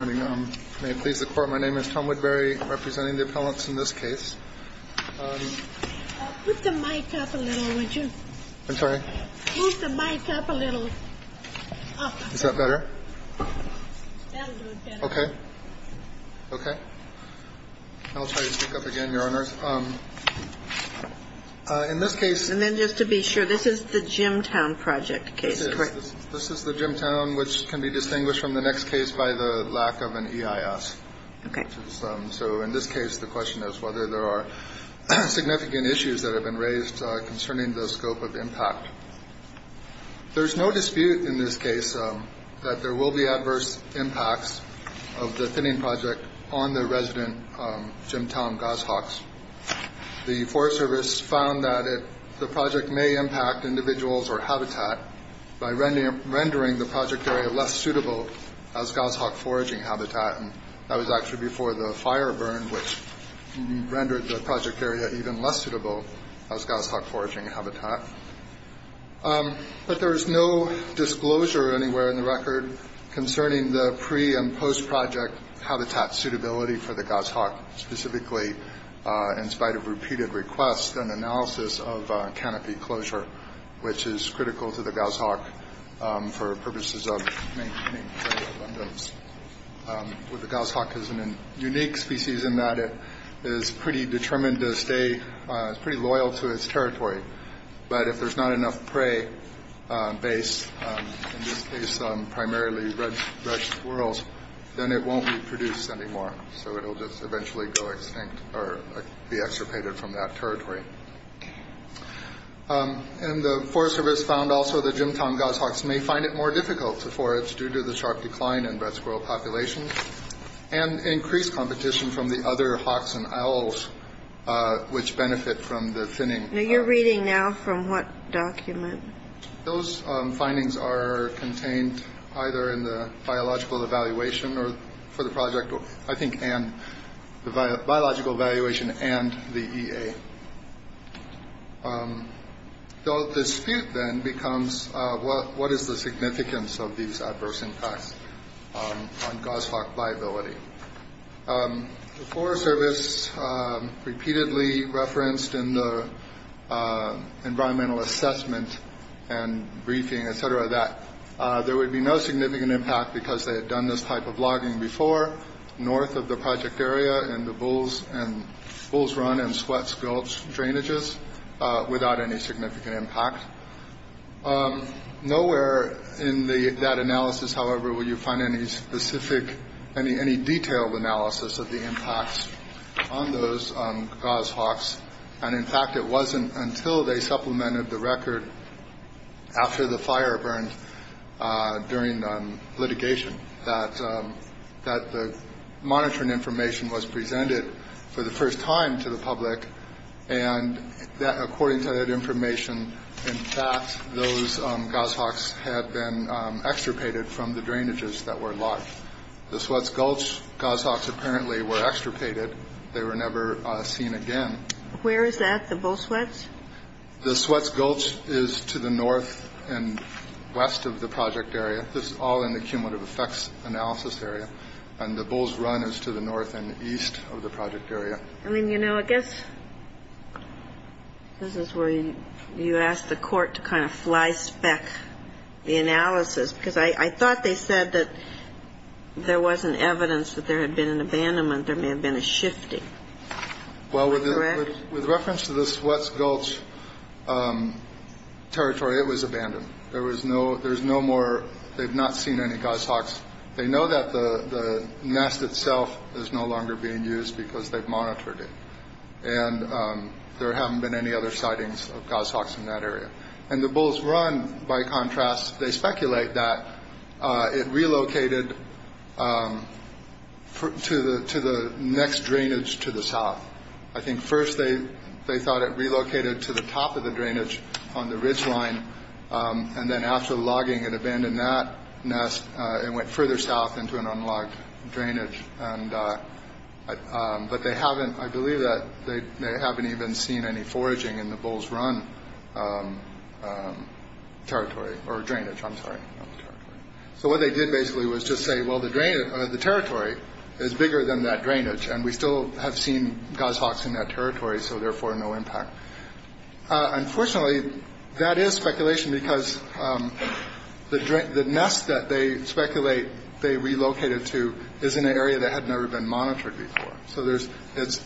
May it please the Court, my name is Tom Woodbury, representing the appellants in this case. Put the mic up a little, would you? I'm sorry? Put the mic up a little. Is that better? That'll do it better. Okay. Okay. I'll try to speak up again, Your Honors. In this case And then just to be sure, this is the Gemtown Project case, correct? This is the Gemtown, which can be distinguished from the next case by the lack of an EIS. Okay. So in this case, the question is whether there are significant issues that have been raised concerning the scope of impact. There's no dispute in this case that there will be adverse impacts of the thinning project on the resident Gemtown goshawks. The Forest Service found that the project may impact individuals or habitat by rendering the project area less suitable as goshawk foraging habitat. And that was actually before the fire burned, which rendered the project area even less suitable as goshawk foraging habitat. But there is no disclosure anywhere in the record concerning the pre- and post-project habitat suitability for the goshawk, specifically in spite of repeated requests and analysis of canopy closure, which is critical to the goshawk for purposes of maintaining prey abundance. The goshawk is a unique species in that it is pretty determined to stay pretty loyal to its territory. But if there's not enough prey base, in this case primarily red squirrels, then it won't reproduce anymore. So it will just eventually go extinct or be extirpated from that territory. And the Forest Service found also that Gemtown goshawks may find it more difficult to forage due to the sharp decline in red squirrel populations and increased competition from the other hawks and owls, which benefit from the thinning. Now, you're reading now from what document? Those findings are contained either in the biological evaluation for the project, I think, and the biological evaluation and the EA. The dispute then becomes what is the significance of these adverse impacts on goshawk viability? The Forest Service repeatedly referenced in the environmental assessment and briefing, et cetera, that there would be no significant impact because they had done this type of logging before, north of the project area and the bulls run and sweat skelch drainages without any significant impact. Nowhere in that analysis, however, will you find any specific, any detailed analysis of the impacts on those goshawks. And in fact, it wasn't until they supplemented the record after the fire burned during litigation that the monitoring information was presented for the first time to the public. And according to that information, in fact, those goshawks had been extirpated from the drainages that were locked. The sweats gulch goshawks apparently were extirpated. They were never seen again. Where is that? The bull sweats? The sweats gulch is to the north and west of the project area. This is all in the cumulative effects analysis area. And the bulls run is to the north and east of the project area. I mean, you know, I guess this is where you ask the court to kind of fly spec the analysis, because I thought they said that there wasn't evidence that there had been an abandonment. There may have been a shifting. Well, with reference to the sweats gulch territory, it was abandoned. There was no there's no more. They've not seen any goshawks. They know that the nest itself is no longer being used because they've monitored it. And there haven't been any other sightings of goshawks in that area. And the bulls run. By contrast, they speculate that it relocated to the to the next drainage to the south. I think first they they thought it relocated to the top of the drainage on the ridge line. And then after logging and abandoned that nest, it went further south into an unlocked drainage. And but they haven't I believe that they haven't even seen any foraging in the bulls run territory or drainage. I'm sorry. So what they did basically was just say, well, the drain of the territory is bigger than that drainage. And we still have seen goshawks in that territory. So therefore, no impact. Unfortunately, that is speculation because the the nest that they speculate they relocated to is in an area that had never been monitored before. So there's it's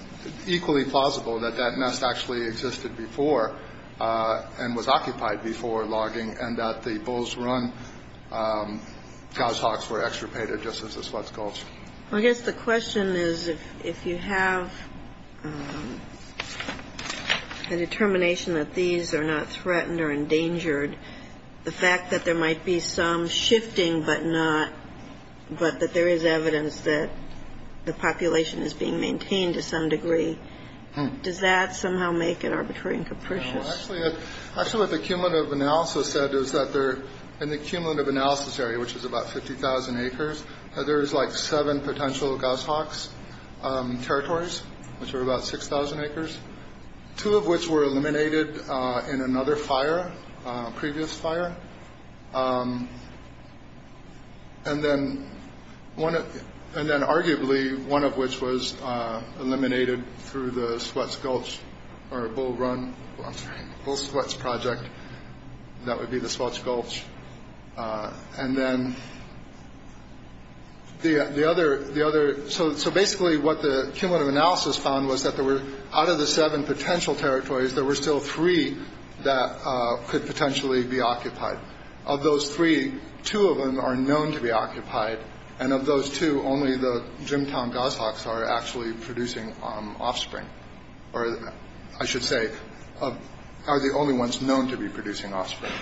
equally plausible that that nest actually existed before and was occupied before logging and that the bulls run. Goshawks were extirpated just as a sweats gulch. I guess the question is, if you have a determination that these are not threatened or endangered, the fact that there might be some shifting, but not but that there is evidence that the population is being maintained to some degree. Does that somehow make it arbitrary and capricious? Actually, actually, what the cumulative analysis said is that they're in the cumulative analysis area, which is about 50000 acres. There is like seven potential goshawks territories, which are about 6000 acres, two of which were eliminated in another fire. Previous fire. And then one. And then arguably one of which was eliminated through the sweats gulch or bull run sweats project. That would be the sweats gulch. And then the other the other. So. So basically what the cumulative analysis found was that there were out of the seven potential territories, there were still three that could potentially be occupied of those three. Two of them are known to be occupied. And of those two, only the gym town goshawks are actually producing offspring. I should say are the only ones known to be producing offspring.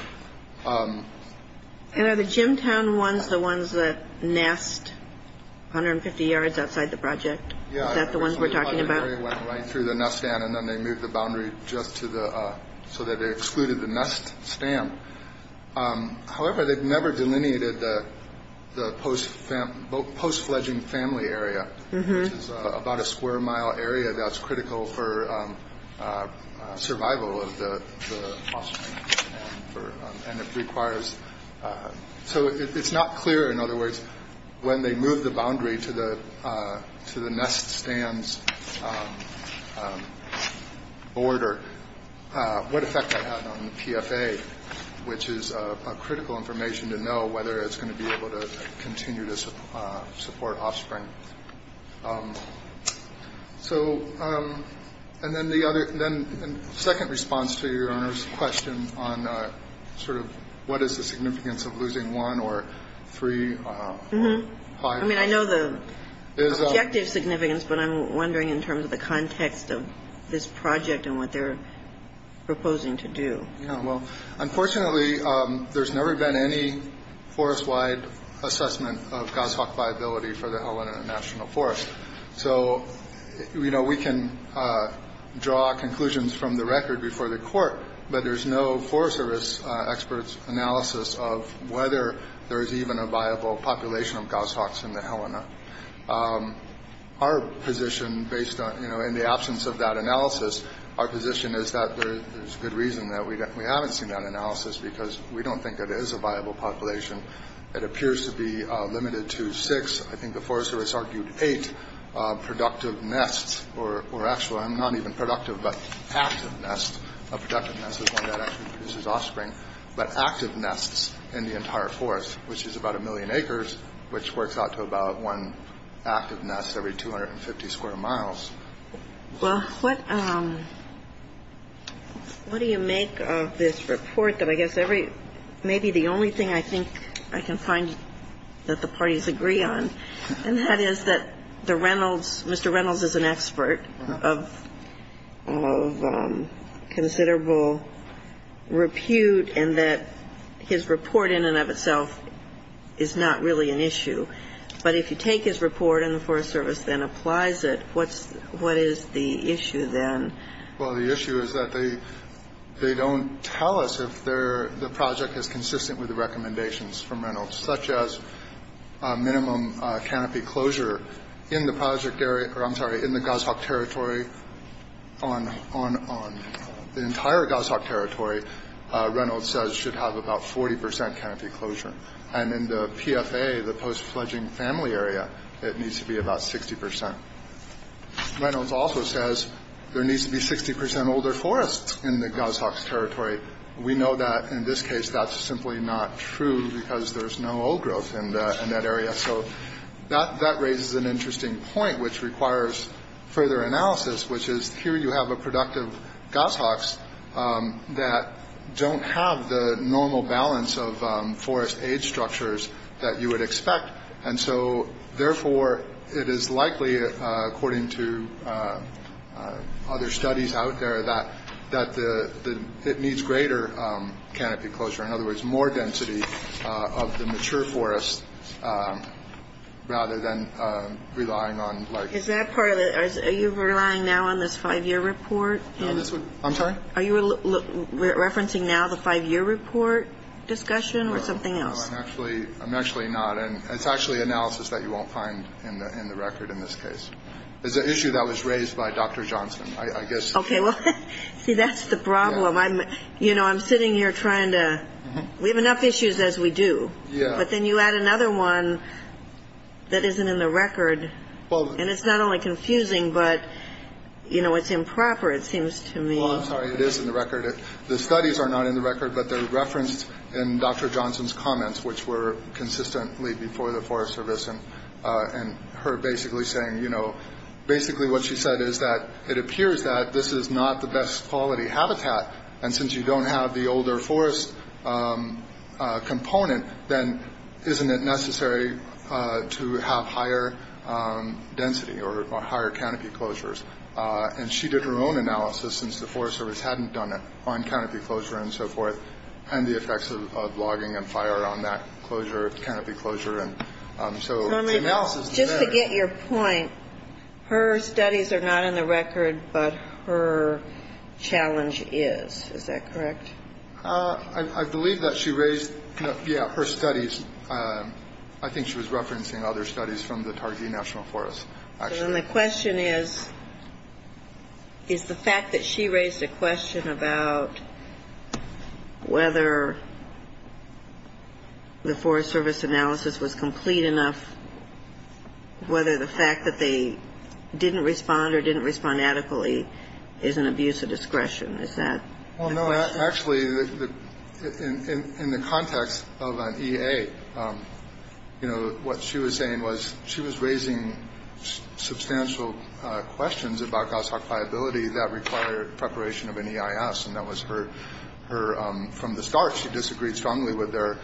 The gym town ones, the ones that nest 150 yards outside the project. The ones we're talking about right through the nest stand. And then they move the boundary just to the so that they excluded the nest stand. However, they've never delineated the post post fledgling family area, which is about a square mile area that's critical for survival of the and it requires. So it's not clear. In other words, when they move the boundary to the to the nest stands order. What effect on the PFA, which is critical information to know whether it's going to be able to continue to support offspring. So and then the other then second response to your question on sort of what is the significance of losing one or three. I mean, I know the objective significance, but I'm wondering in terms of the context of this project and what they're proposing to do. Well, unfortunately, there's never been any forest wide assessment of goshawk viability for the Helena National Forest. So, you know, we can draw conclusions from the record before the court, but there's no forest service experts analysis of whether there is even a viable population of goshawks in the Helena. Our position based on, you know, in the absence of that analysis, our position is that there is good reason that we don't we haven't seen that analysis because we don't think it is a viable population. It appears to be limited to six. I think the forest service argued eight productive nests or were actually not even productive, but active nest, a productive nest is one that actually produces offspring. But active nests in the entire forest, which is about a million acres, which works out to about one active nest every 250 square miles. Well, what what do you make of this report that I guess every maybe the only thing I think I can find that the parties agree on. And that is that the Reynolds Mr. Reynolds is an expert of of considerable repute and that his report in and of itself is not really an issue. But if you take his report and the Forest Service then applies it, what's what is the issue then? Well, the issue is that they they don't tell us if they're the project is consistent with the recommendations from Reynolds, such as minimum canopy closure in the project area or I'm sorry, in the goshawk territory on on on the entire goshawk territory. Reynolds says should have about 40 percent canopy closure. And in the PFA, the post-fledging family area, it needs to be about 60 percent. Reynolds also says there needs to be 60 percent older forests in the goshawks territory. We know that in this case, that's simply not true because there's no growth in that area. So that that raises an interesting point, which requires further analysis, which is here you have a productive goshawks that don't have the normal balance of forest age structures that you would expect. And so therefore, it is likely, according to other studies out there, that that it needs greater canopy closure. In other words, more density of the mature forest rather than relying on. Is that part of it? Are you relying now on this five year report? I'm sorry. Are you referencing now the five year report discussion or something else? Actually, I'm actually not. And it's actually analysis that you won't find in the record. In this case is the issue that was raised by Dr. Johnson, I guess. OK, well, see, that's the problem. I'm you know, I'm sitting here trying to we have enough issues as we do. Yeah. But then you add another one that isn't in the record. Well, and it's not only confusing, but, you know, it's improper, it seems to me. I'm sorry. It is in the record. The studies are not in the record, but they're referenced in Dr. Johnson's comments, which were consistently before the Forest Service and her basically saying, you know, basically what she said is that it appears that this is not the best quality habitat. And since you don't have the older forest component, then isn't it necessary to have higher density or higher canopy closures? And she did her own analysis since the Forest Service hadn't done it on canopy closure and so forth. And the effects of logging and fire on that closure of canopy closure. And so just to get your point, her studies are not in the record, but her challenge is. Is that correct? I believe that she raised her studies. I think she was referencing other studies from the Targhee National Forest. The question is, is the fact that she raised a question about whether the Forest Service analysis was complete enough, whether the fact that they didn't respond or didn't respond adequately is an abuse of discretion. Is that the question? Well, no, actually, in the context of an EA, you know, what she was saying was she was raising substantial questions about goshawk viability that required preparation of an EIS. And that was her from the start. She disagreed strongly with their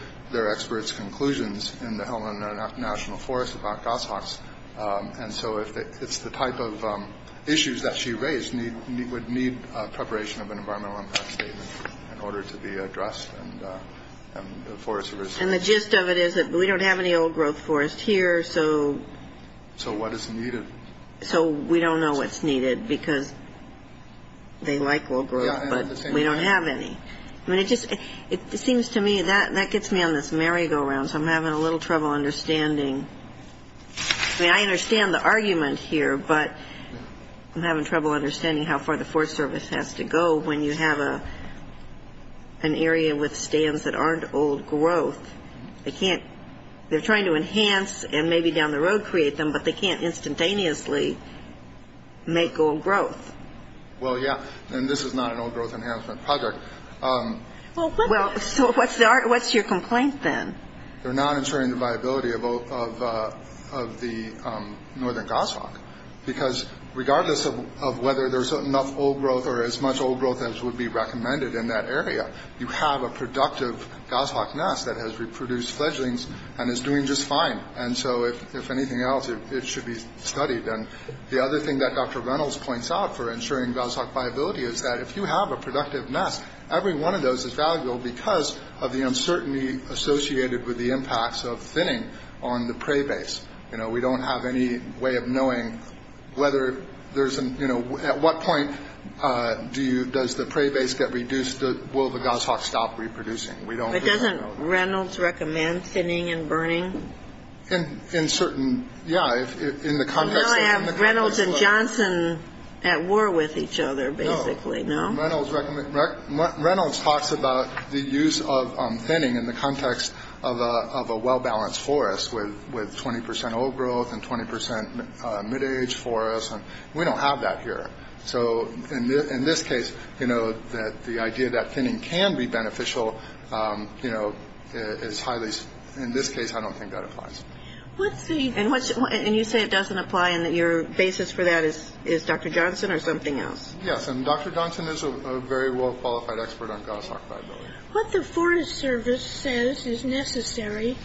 experts' conclusions in the Helena National Forest about goshawks. And so it's the type of issues that she raised would need preparation of an environmental impact statement in order to be addressed. And the gist of it is that we don't have any old growth forest here. So what is needed? So we don't know what's needed because they like old growth, but we don't have any. I mean, it just seems to me that that gets me on this merry-go-round, so I'm having a little trouble understanding. I mean, I understand the argument here, but I'm having trouble understanding how far the Forest Service has to go when you have an area with stands that aren't old growth. They can't they're trying to enhance and maybe down the road create them, but they can't instantaneously make old growth. Well, yeah, and this is not an old growth enhancement project. Well, so what's your complaint then? They're not ensuring the viability of the northern goshawk because regardless of whether there's enough old growth or as much old growth as would be recommended in that area, you have a productive goshawk nest that has reproduced fledglings and is doing just fine. And so if anything else, it should be studied. And the other thing that Dr. Reynolds points out for ensuring goshawk viability is that if you have a productive nest, every one of those is valuable because of the uncertainty associated with the impacts of thinning on the prey base. You know, we don't have any way of knowing whether there's, you know, at what point does the prey base get reduced? Will the goshawk stop reproducing? In certain, yeah, in the context of. You don't have Reynolds and Johnson at war with each other basically, no? No. Reynolds talks about the use of thinning in the context of a well-balanced forest with 20 percent old growth and 20 percent mid-age forest. We don't have that here. So in this case, you know, the idea that thinning can be beneficial, you know, is highly. In this case, I don't think that applies. And you say it doesn't apply and that your basis for that is Dr. Johnson or something else? Yes. And Dr. Johnson is a very well-qualified expert on goshawk viability. What the Forest Service says is necessary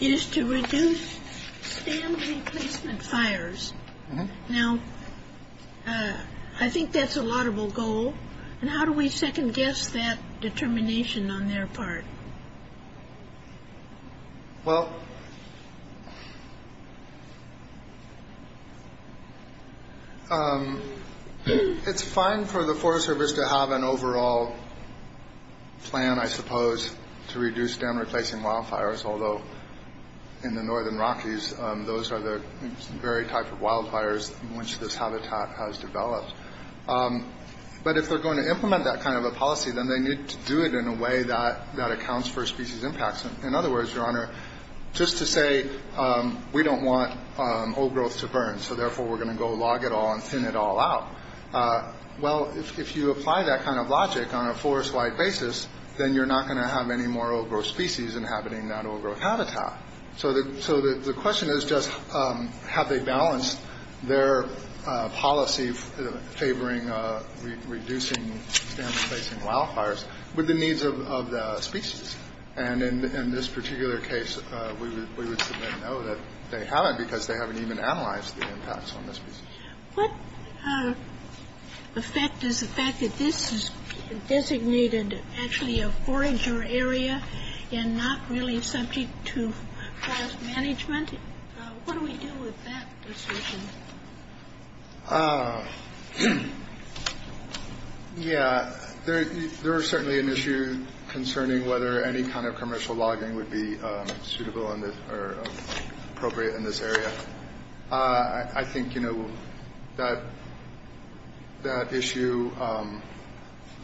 is to reduce stand replacement fires. Now, I think that's a laudable goal. And how do we second guess that determination on their part? Well, it's fine for the Forest Service to have an overall plan, I suppose, to reduce stand replacing wildfires, although in the northern Rockies, those are the very type of wildfires in which this habitat has developed. But if they're going to implement that kind of a policy, then they need to do it in a way that accounts for species impacts. In other words, Your Honor, just to say we don't want old growth to burn, so therefore we're going to go log it all and thin it all out. Well, if you apply that kind of logic on a forest-wide basis, then you're not going to have any more old growth species inhabiting that old growth habitat. So the question is just how they balance their policy favoring reducing stand replacing wildfires with the needs of the species. And in this particular case, we would know that they haven't because they haven't even analyzed the impacts on the species. What effect is the fact that this is designated actually a forager area and not really subject to forest management? What do we do with that decision? Yeah, there are certainly an issue concerning whether any kind of commercial logging would be suitable or appropriate in this area. I think, you know, that issue,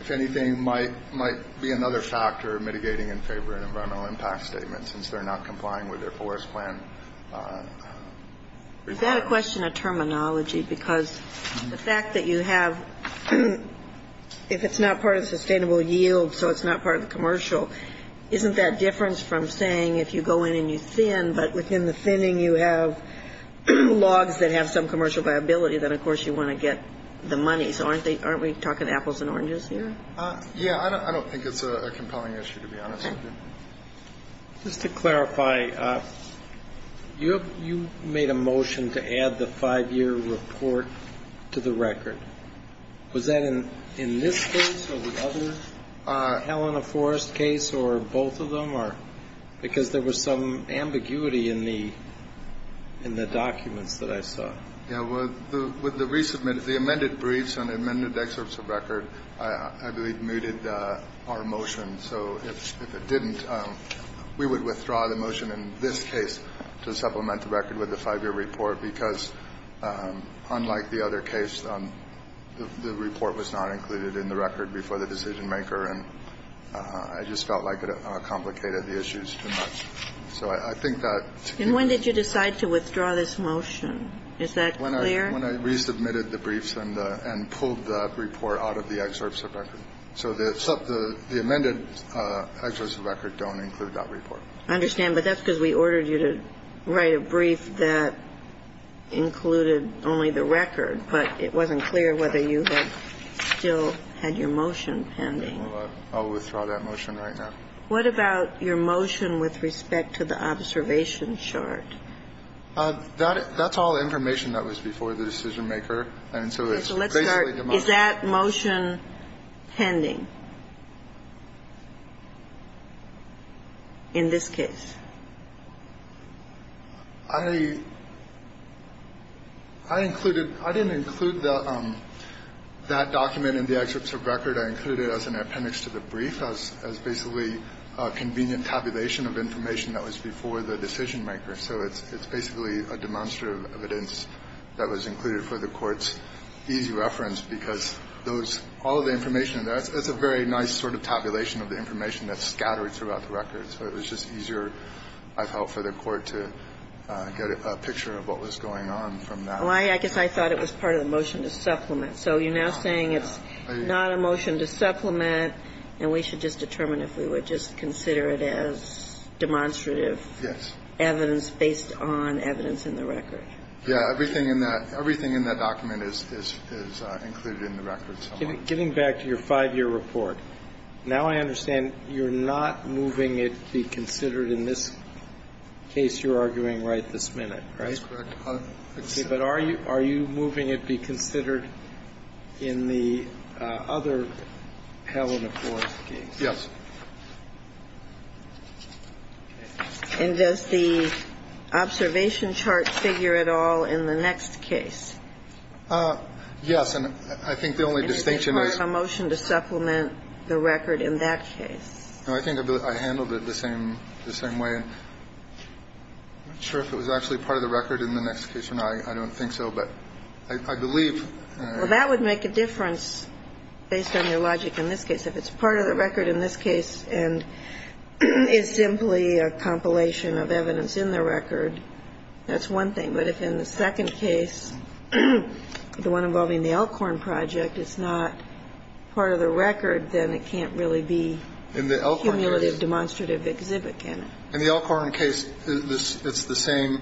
if anything, might be another factor mitigating in favor of an environmental impact statement since they're not complying with their forest plan. Is that a question of terminology? Because the fact that you have, if it's not part of sustainable yield, so it's not part of the commercial, isn't that different from saying if you go in and you thin, but within the thinning you have logs that have some commercial viability, then of course you want to get the money. So aren't we talking apples and oranges here? Yeah, I don't think it's a compelling issue, to be honest with you. Just to clarify, you made a motion to add the five-year report to the record. Was that in this case or the other Helena Forest case or both of them? Because there was some ambiguity in the documents that I saw. Yeah, with the recent, the amended briefs and amended excerpts of record, I believe, mooted our motion. So if it didn't, we would withdraw the motion in this case to supplement the record with the five-year report because unlike the other case, the report was not included in the record before the decision-maker and I just felt like it complicated the issues too much. So I think that to me ---- And when did you decide to withdraw this motion? Is that clear? When I resubmitted the briefs and pulled the report out of the excerpts of record. So the amended excerpts of record don't include that report. I understand. But that's because we ordered you to write a brief that included only the record, but it wasn't clear whether you had still had your motion pending. I'll withdraw that motion right now. What about your motion with respect to the observation chart? That's all information that was before the decision-maker. And so it's basically demonstrative. Okay. So let's start. Is that motion pending in this case? I included ---- I didn't include that document in the excerpts of record. I included it as an appendix to the brief, as basically a convenient tabulation of information that was before the decision-maker. So it's basically a demonstrative evidence that was included for the Court's easy reference, because those ---- all of the information, that's a very nice sort of tabulation of the information that's scattered throughout the record. So it was just easier, I felt, for the Court to get a picture of what was going on from that. Well, I guess I thought it was part of the motion to supplement. So you're now saying it's not a motion to supplement, and we should just determine if we would just consider it as demonstrative evidence based on evidence in the record? Yes. Everything in that document is included in the record. Getting back to your 5-year report, now I understand you're not moving it be considered in this case you're arguing right this minute, right? That's correct. Okay. But are you moving it be considered in the other Helena Forrest case? Yes. And does the observation chart figure at all in the next case? Yes. And I think the only distinction is ---- Is it part of the motion to supplement the record in that case? No. I think I handled it the same way. I'm not sure if it was actually part of the record in the next case or not. I don't think so. But I believe ---- Well, that would make a difference based on your logic in this case. If it's part of the record in this case and is simply a compilation of evidence in the record, that's one thing. But if in the second case, the one involving the Elkhorn Project, it's not part of the record, then it can't really be a cumulative demonstrative exhibit, can it? In the Elkhorn case, it's the same.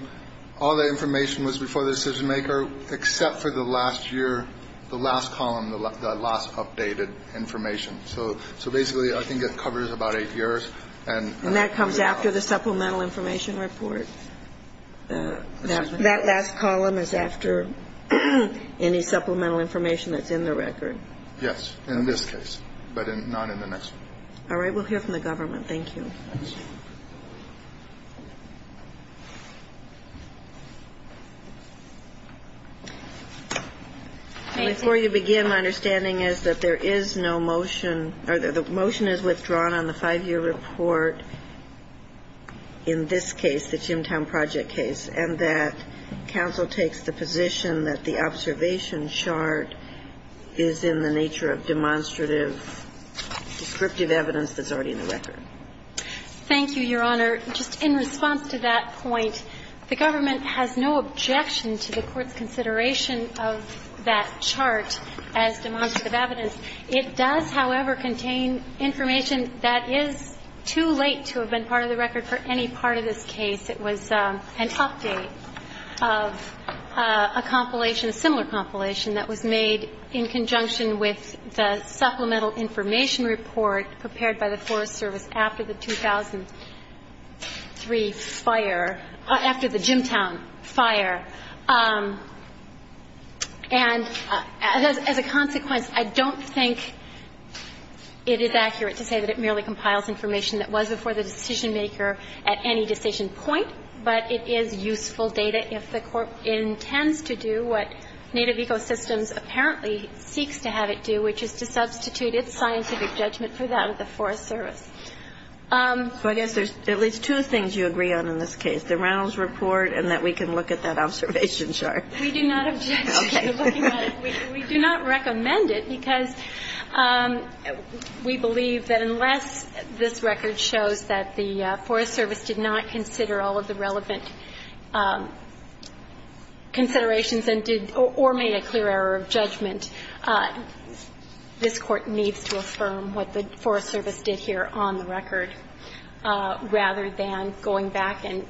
All the information was before the decision-maker except for the last year, the last column, the last updated information. So basically, I think it covers about eight years and ---- And that comes after the supplemental information report? That last column is after any supplemental information that's in the record? Yes, in this case, but not in the next one. All right. We'll hear from the government. Thank you. Before you begin, my understanding is that there is no motion, or the motion is withdrawn on the five-year report in this case, the Chimtown Project case, and that counsel takes the position that the observation chart is in the nature of demonstrative, descriptive evidence that's already in the record. Thank you. Thank you, Your Honor. Just in response to that point, the government has no objection to the Court's consideration of that chart as demonstrative evidence. It does, however, contain information that is too late to have been part of the record for any part of this case. It was an update of a compilation, a similar compilation that was made in conjunction with the supplemental information report prepared by the Forest Service after the 2003 fire, after the Chimtown fire. And as a consequence, I don't think it is accurate to say that it merely compiles information that was before the decision-maker at any decision point, but it is useful data if the Court intends to do what Native Ecosystems apparently seeks to have it do, which is to substitute its scientific judgment for that of the Forest Service. So I guess there's at least two things you agree on in this case, the Reynolds report and that we can look at that observation chart. We do not object to looking at it. We do not recommend it because we believe that unless this record shows that the Forest Service did some considerations or made a clear error of judgment, this Court needs to affirm what the Forest Service did here on the record, rather than going back and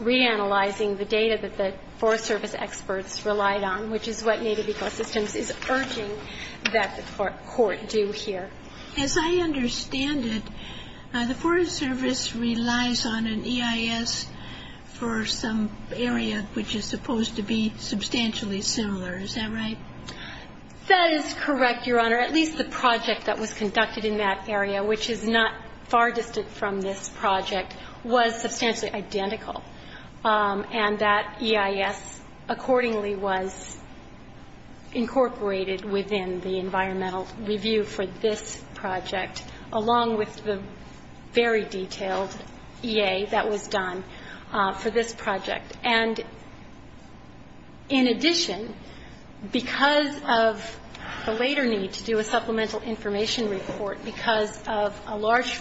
reanalyzing the data that the Forest Service experts relied on, which is what Native Ecosystems is urging that the Court do here. As I understand it, the Forest Service relies on an EIS for some area which is supposed to be substantially similar. Is that right? That is correct, Your Honor. At least the project that was conducted in that area, which is not far distant from this project, was substantially identical. And that EIS accordingly was incorporated within the environmental review for this project, along with the very detailed EA that was done for this project. And in addition, because of the later need to do a supplemental information report, because of a large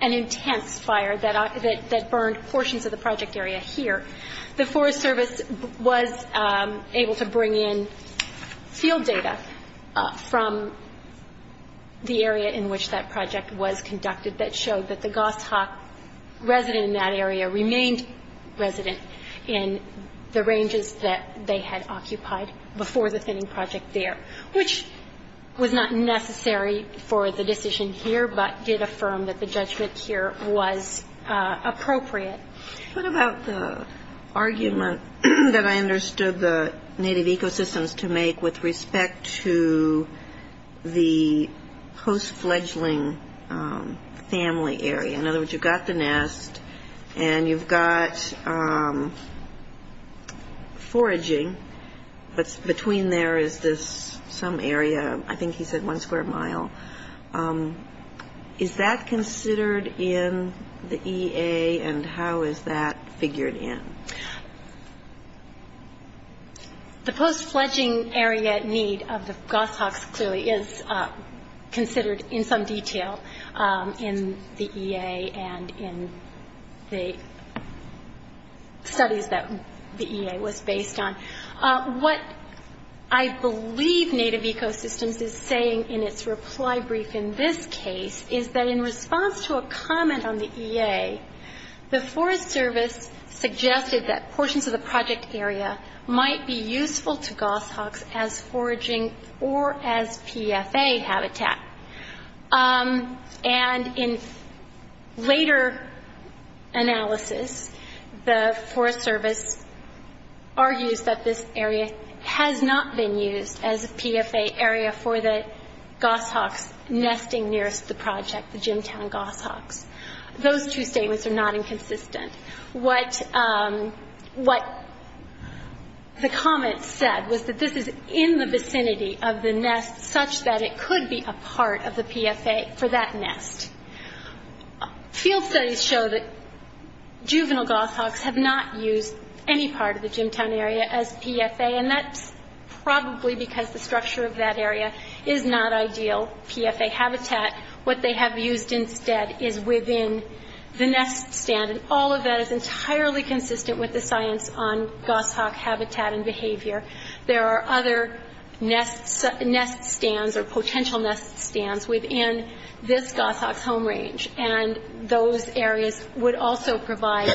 and intense fire that burned portions of the project area here, the Forest Service was able to bring in field data from the area in which that project was conducted that showed that the goshawk resident in that area remained resident in the ranges that they had occupied before the thinning project there, which was not necessary for the decision here, but did affirm that the judgment here was appropriate. What about the argument that I understood the Native Ecosystems to make with respect to the post-fledgling family area? In other words, you've got the nest, and you've got foraging, but between there is this some area, I think he said one square mile. Is that considered in the EA, and how is that figured in? The post-fledgling area at need of the goshawks clearly is considered in some detail in the EA and in the studies that the EA was based on. What I believe Native Ecosystems is saying in its reply brief in this case is that in response to a comment on the EA, the Forest Service suggested that portions of the project area might be useful to goshawks as foraging or as PFA habitat. And in later analysis, the Forest Service argues that this area has not been used as a PFA area for the goshawks nesting nearest the project, the Jimtown goshawks. Those two statements are not inconsistent. What the comment said was that this is in the vicinity of the nest, such that it could be a part of the PFA for that nest. Field studies show that juvenile goshawks have not used any part of the Jimtown area as PFA, and that's probably because the structure of that area is not ideal PFA habitat. What they have used instead is within the nest stand, and all of that is entirely consistent with the science on goshawk habitat and behavior. There are other nest stands or potential nest stands within this goshawk's home range, and those areas would also provide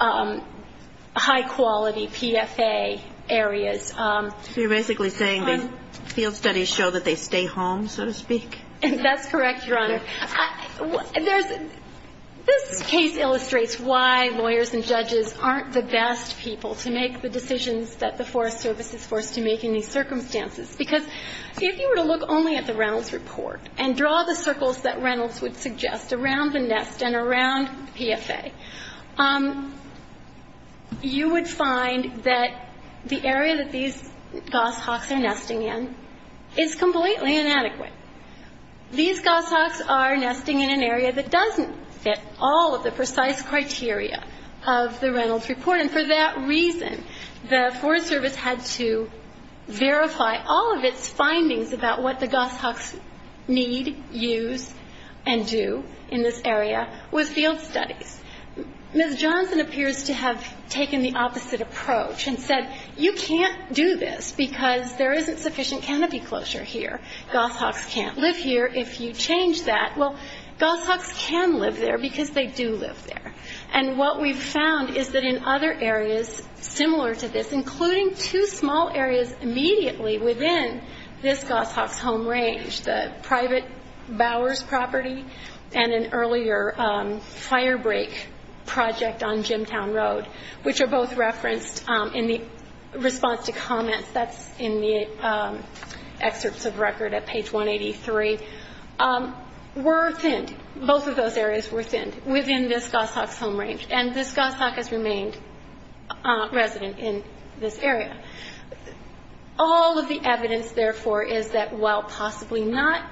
high-quality PFA areas. So you're basically saying these field studies show that they stay home, so to speak? That's correct, Your Honor. This case illustrates why lawyers and judges aren't the best people to make the decisions that the Forest Service is forced to make in these circumstances, because if you were to look only at the Reynolds report and draw the circles that Reynolds would suggest around the nest and around PFA, you would find that the area that these goshawks are nesting in is completely inadequate. These goshawks are nesting in an area that doesn't fit all of the precise criteria of the Reynolds report, and for that reason, the Forest Service had to verify all of its findings about what the goshawks need, use, and do in this area with field studies. Ms. Johnson appears to have taken the opposite approach and said, you can't do this because there isn't sufficient canopy closure here. Goshawks can't live here if you change that. Well, goshawks can live there because they do live there, and what we've found is that in other areas similar to this, including two small areas immediately within this goshawk's home range, the private Bowers property and an earlier firebreak project on Jimtown Road, which are both referenced in the response to comments that's in the excerpts of record at page 183, were thinned, both of those areas were thinned within this goshawk's home range, and this goshawk has remained resident in this area. All of the evidence, therefore, is that while possibly not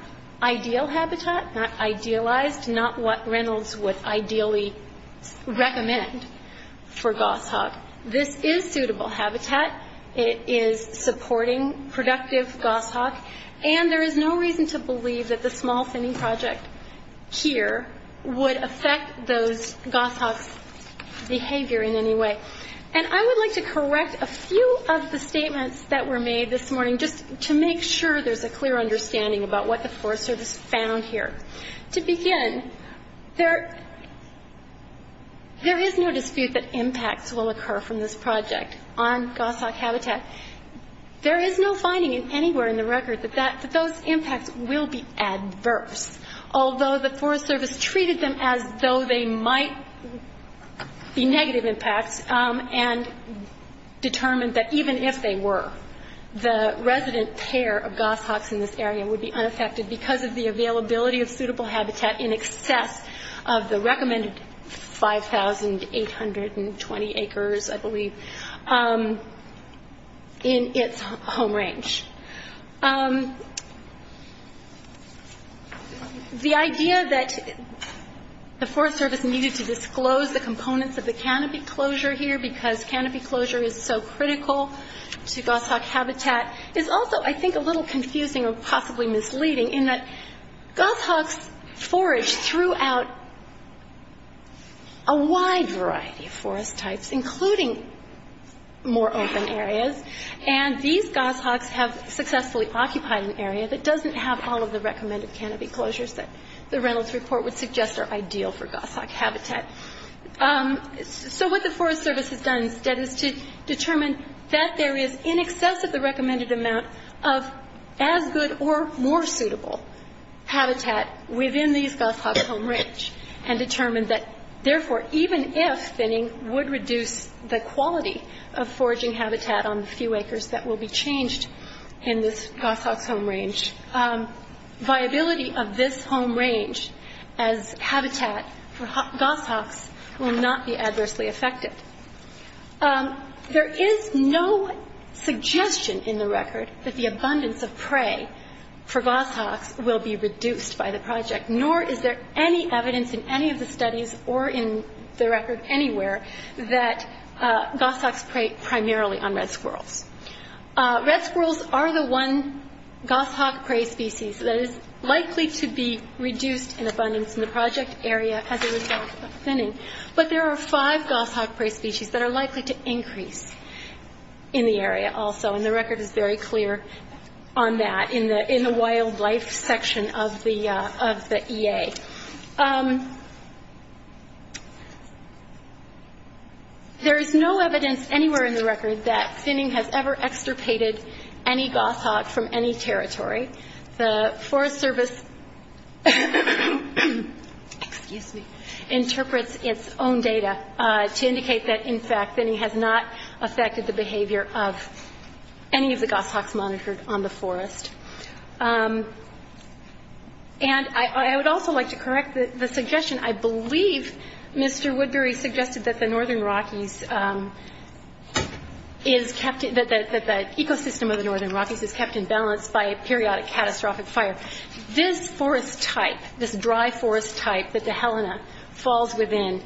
ideal habitat, not idealized, not what Reynolds would ideally recommend for goshawk, this is suitable habitat. It is supporting productive goshawk, and there is no reason to believe that the small thinning project here would affect those goshawks' behavior in any way. And I would like to correct a few of the statements that were made this morning just to make sure there's a clear understanding about what the Forest Service found here. To begin, there is no dispute that impacts will occur from this project on goshawk habitat. There is no finding anywhere in the record that those impacts will be adverse, although the Forest Service treated them as though they might be negative impacts and determined that even if they were, the resident pair of goshawks in this area would be unaffected because of the availability of suitable habitat in excess of the recommended 5,820 acres, I believe, in its home range. The idea that the Forest Service needed to disclose the components of the canopy closure here because canopy closure is so critical to goshawk habitat is also, I think, a little confusing or possibly misleading in that goshawks forage throughout a wide variety of forest types, including more open areas, and these goshawks have successfully occupied an area that doesn't have all of the recommended canopy closures that the Reynolds report would suggest are ideal for goshawk habitat. So what the Forest Service has done instead is to determine that there is in excess of the recommended amount of as good or more suitable habitat within these goshawks' home range and determined that, therefore, even if thinning would reduce the quality of foraging habitat on the few acres that will be changed in this goshawk's home range, viability of this home range as habitat for goshawks will not be adversely affected. There is no suggestion in the record that the abundance of prey for goshawks will be reduced by the project, nor is there any evidence in any of the studies or in the record anywhere that goshawks prey primarily on red squirrels. Red squirrels are the one goshawk prey species that is likely to be reduced in abundance in the project area as a result of thinning, but there are five goshawk prey species that are likely to increase in the area also, and the record is very clear on that in the wildlife section of the EA. Okay. There is no evidence anywhere in the record that thinning has ever extirpated any goshawk from any territory. The Forest Service, excuse me, interprets its own data to indicate that, in fact, thinning has not affected the behavior of any of the goshawks monitored on the forest. And I would also like to correct the suggestion. I believe Mr. Woodbury suggested that the northern Rockies is kept in the ecosystem of the northern Rockies is kept in balance by a periodic catastrophic fire. This forest type, this dry forest type that the Helena falls within,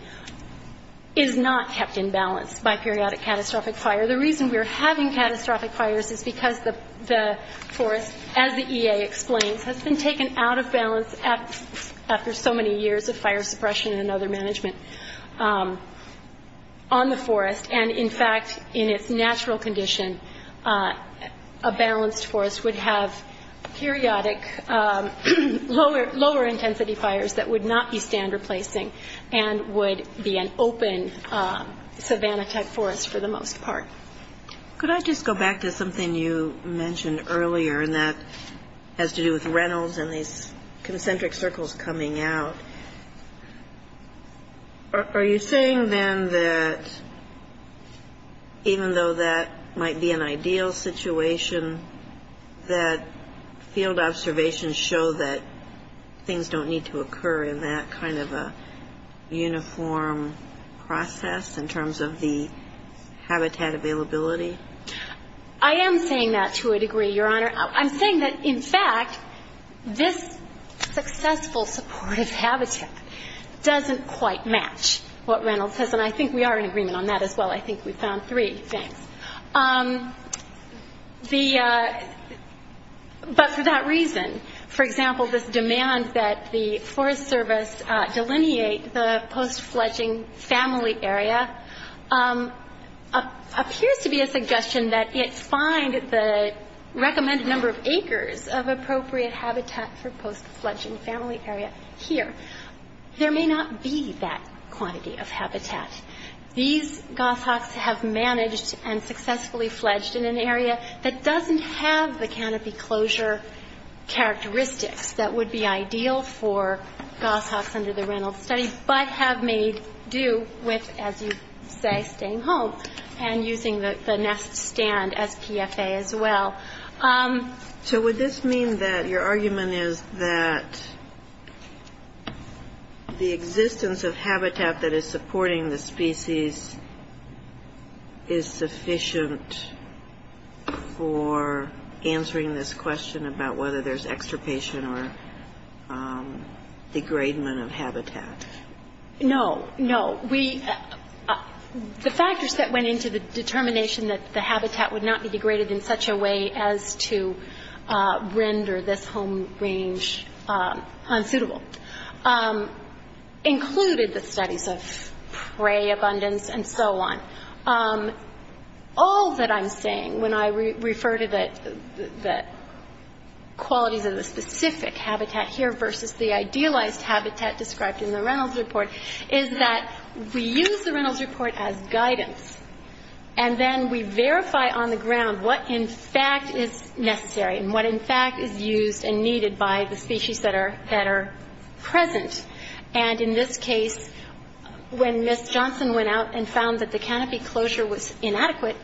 is not kept in balance by periodic catastrophic fire. The reason we're having catastrophic fires is because the forest, as the EA explains, has been taken out of balance after so many years of fire suppression and other management on the forest. And, in fact, in its natural condition, a balanced forest would have periodic lower intensity fires that would not be stand replacing and would be an open savanna type forest for the most part. Could I just go back to something you mentioned earlier, and that has to do with Reynolds and these concentric circles coming out? Are you saying, then, that even though that might be an ideal situation, that field observations show that things don't need to occur in that kind of a uniform process in terms of the habitat availability? I am saying that to a degree, Your Honor. I'm saying that, in fact, this successful supportive habitat doesn't quite match what Reynolds says. And I think we are in agreement on that as well. I think we found three things. But for that reason, for example, this demand that the Forest Service delineate the post-fledging family area appears to be a suggestion that it find the recommended number of acres of appropriate habitat for post-fledging family area here. There may not be that quantity of habitat. These goshawks have managed and successfully fledged in an area that doesn't have the canopy closure characteristics that would be ideal for goshawks under the Reynolds study, but have made do with, as you say, staying home and using the nest stand as PFA as well. So would this mean that your argument is that the existence of habitat that is supporting the species is sufficient for answering this question about whether there's extirpation or degradement of habitat? No, no. The factors that went into the determination that the habitat would not be degraded in such a way as to render this home range unsuitable included the studies of prey abundance and so on. All that I'm saying when I refer to the qualities of the specific habitat here versus the idealized habitat described in the Reynolds report is that we use the Reynolds report as guidance, and then we verify on the ground what, in fact, is necessary and what, in fact, is used and needed by the species that are present. And in this case, when Ms. Johnson went out and found that the canopy closure was inadequate,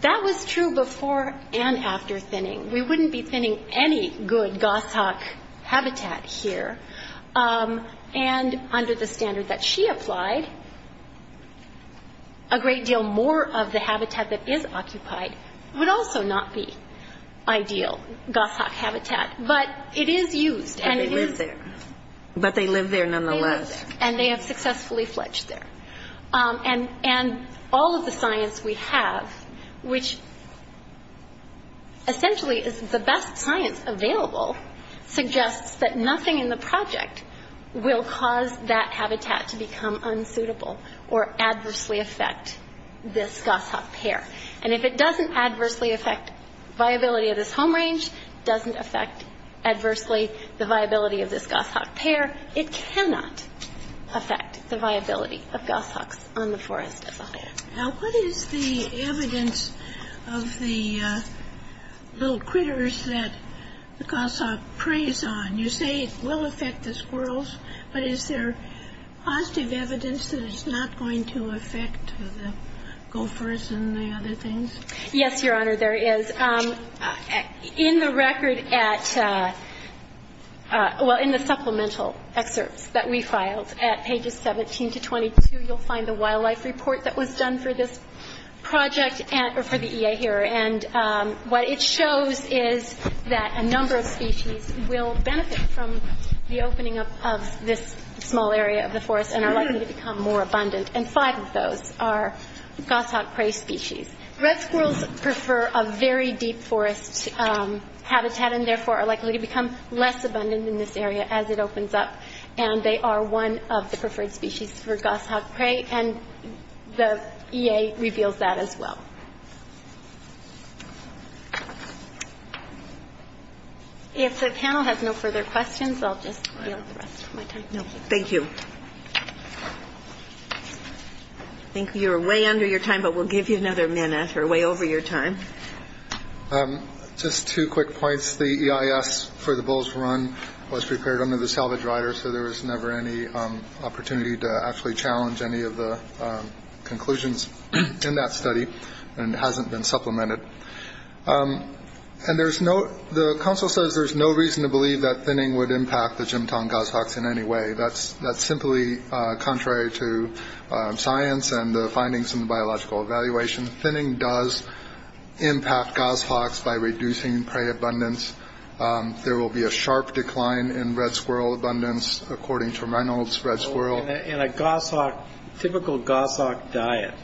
that was true before and after thinning. We wouldn't be thinning any good goshawk habitat here. And under the standard that she applied, a great deal more of the habitat that is occupied would also not be ideal goshawk habitat. But it is used. But they live there. But they live there nonetheless. They live there, and they have successfully fledged there. And all of the science we have, which essentially is the best science available, suggests that nothing in the project will cause that habitat to become unsuitable or adversely affect this goshawk pair. And if it doesn't adversely affect viability of this home range, doesn't affect adversely the viability of this goshawk pair, it cannot affect the viability of goshawks on the forest as a whole. Now, what is the evidence of the little critters that the goshawk preys on? You say it will affect the squirrels, but is there positive evidence that it's not going to affect the gophers and the other things? Yes, Your Honor, there is. In the record at ‑‑ well, in the supplemental excerpts that we filed at pages 17 to 22, you'll find the wildlife report that was done for this project and for the EA here. And what it shows is that a number of species will benefit from the opening up of this small area of the forest and are likely to become more abundant, and five of those are goshawk prey species. Red squirrels prefer a very deep forest habitat and therefore are likely to become less abundant in this area as it opens up, and they are one of the preferred species for goshawk prey, and the EA reveals that as well. If the panel has no further questions, I'll just yield the rest of my time. Thank you. I think you're way under your time, but we'll give you another minute or way over your time. Just two quick points. The EIS for the bull's run was prepared under the salvage rider, so there was never any opportunity to actually challenge any of the conclusions in that study and it hasn't been supplemented. And there's no ‑‑ the counsel says there's no reason to believe that thinning would impact the Jim Tong goshawks in any way. That's simply contrary to science and the findings in the biological evaluation. Thinning does impact goshawks by reducing prey abundance. There will be a sharp decline in red squirrel abundance, according to Reynolds, red squirrel. In a goshawk, typical goshawk diet,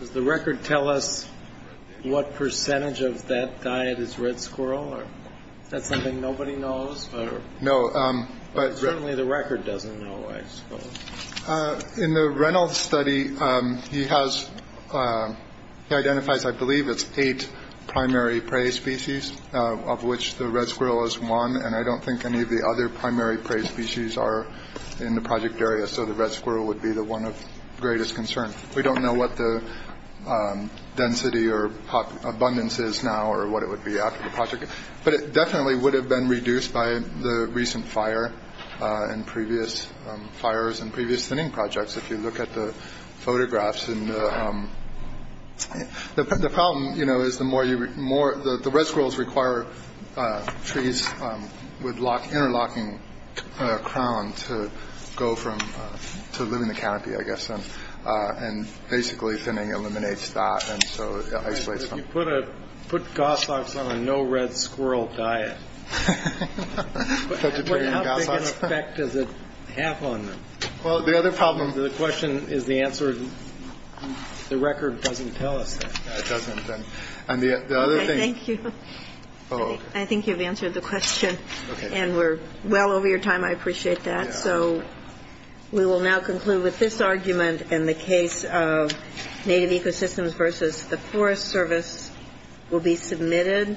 does the record tell us what percentage of that diet is red squirrel? Is that something nobody knows? No. Certainly the record doesn't know, I suppose. In the Reynolds study, he has ‑‑ he identifies, I believe, it's eight primary prey species, of which the red squirrel is one, and I don't think any of the other primary prey species are in the project area, so the red squirrel would be the one of greatest concern. We don't know what the density or abundance is now or what it would be after the project, but it definitely would have been reduced by the recent fire and previous fires and previous thinning projects, if you look at the photographs. And the problem, you know, is the more you ‑‑ the red squirrels require trees with interlocking crown to go from, to live in the canopy, I guess, and basically thinning eliminates that, and so it isolates them. You put goshawks on a no red squirrel diet. Vegetarian goshawks. What outbreak effect does it have on them? Well, the other problem. The question is the answer. The record doesn't tell us that. It doesn't. And the other thing ‑‑ Okay, thank you. I think you've answered the question, and we're well over your time. I appreciate that. All right, so we will now conclude with this argument in the case of Native Ecosystems versus the Forest Service will be submitted.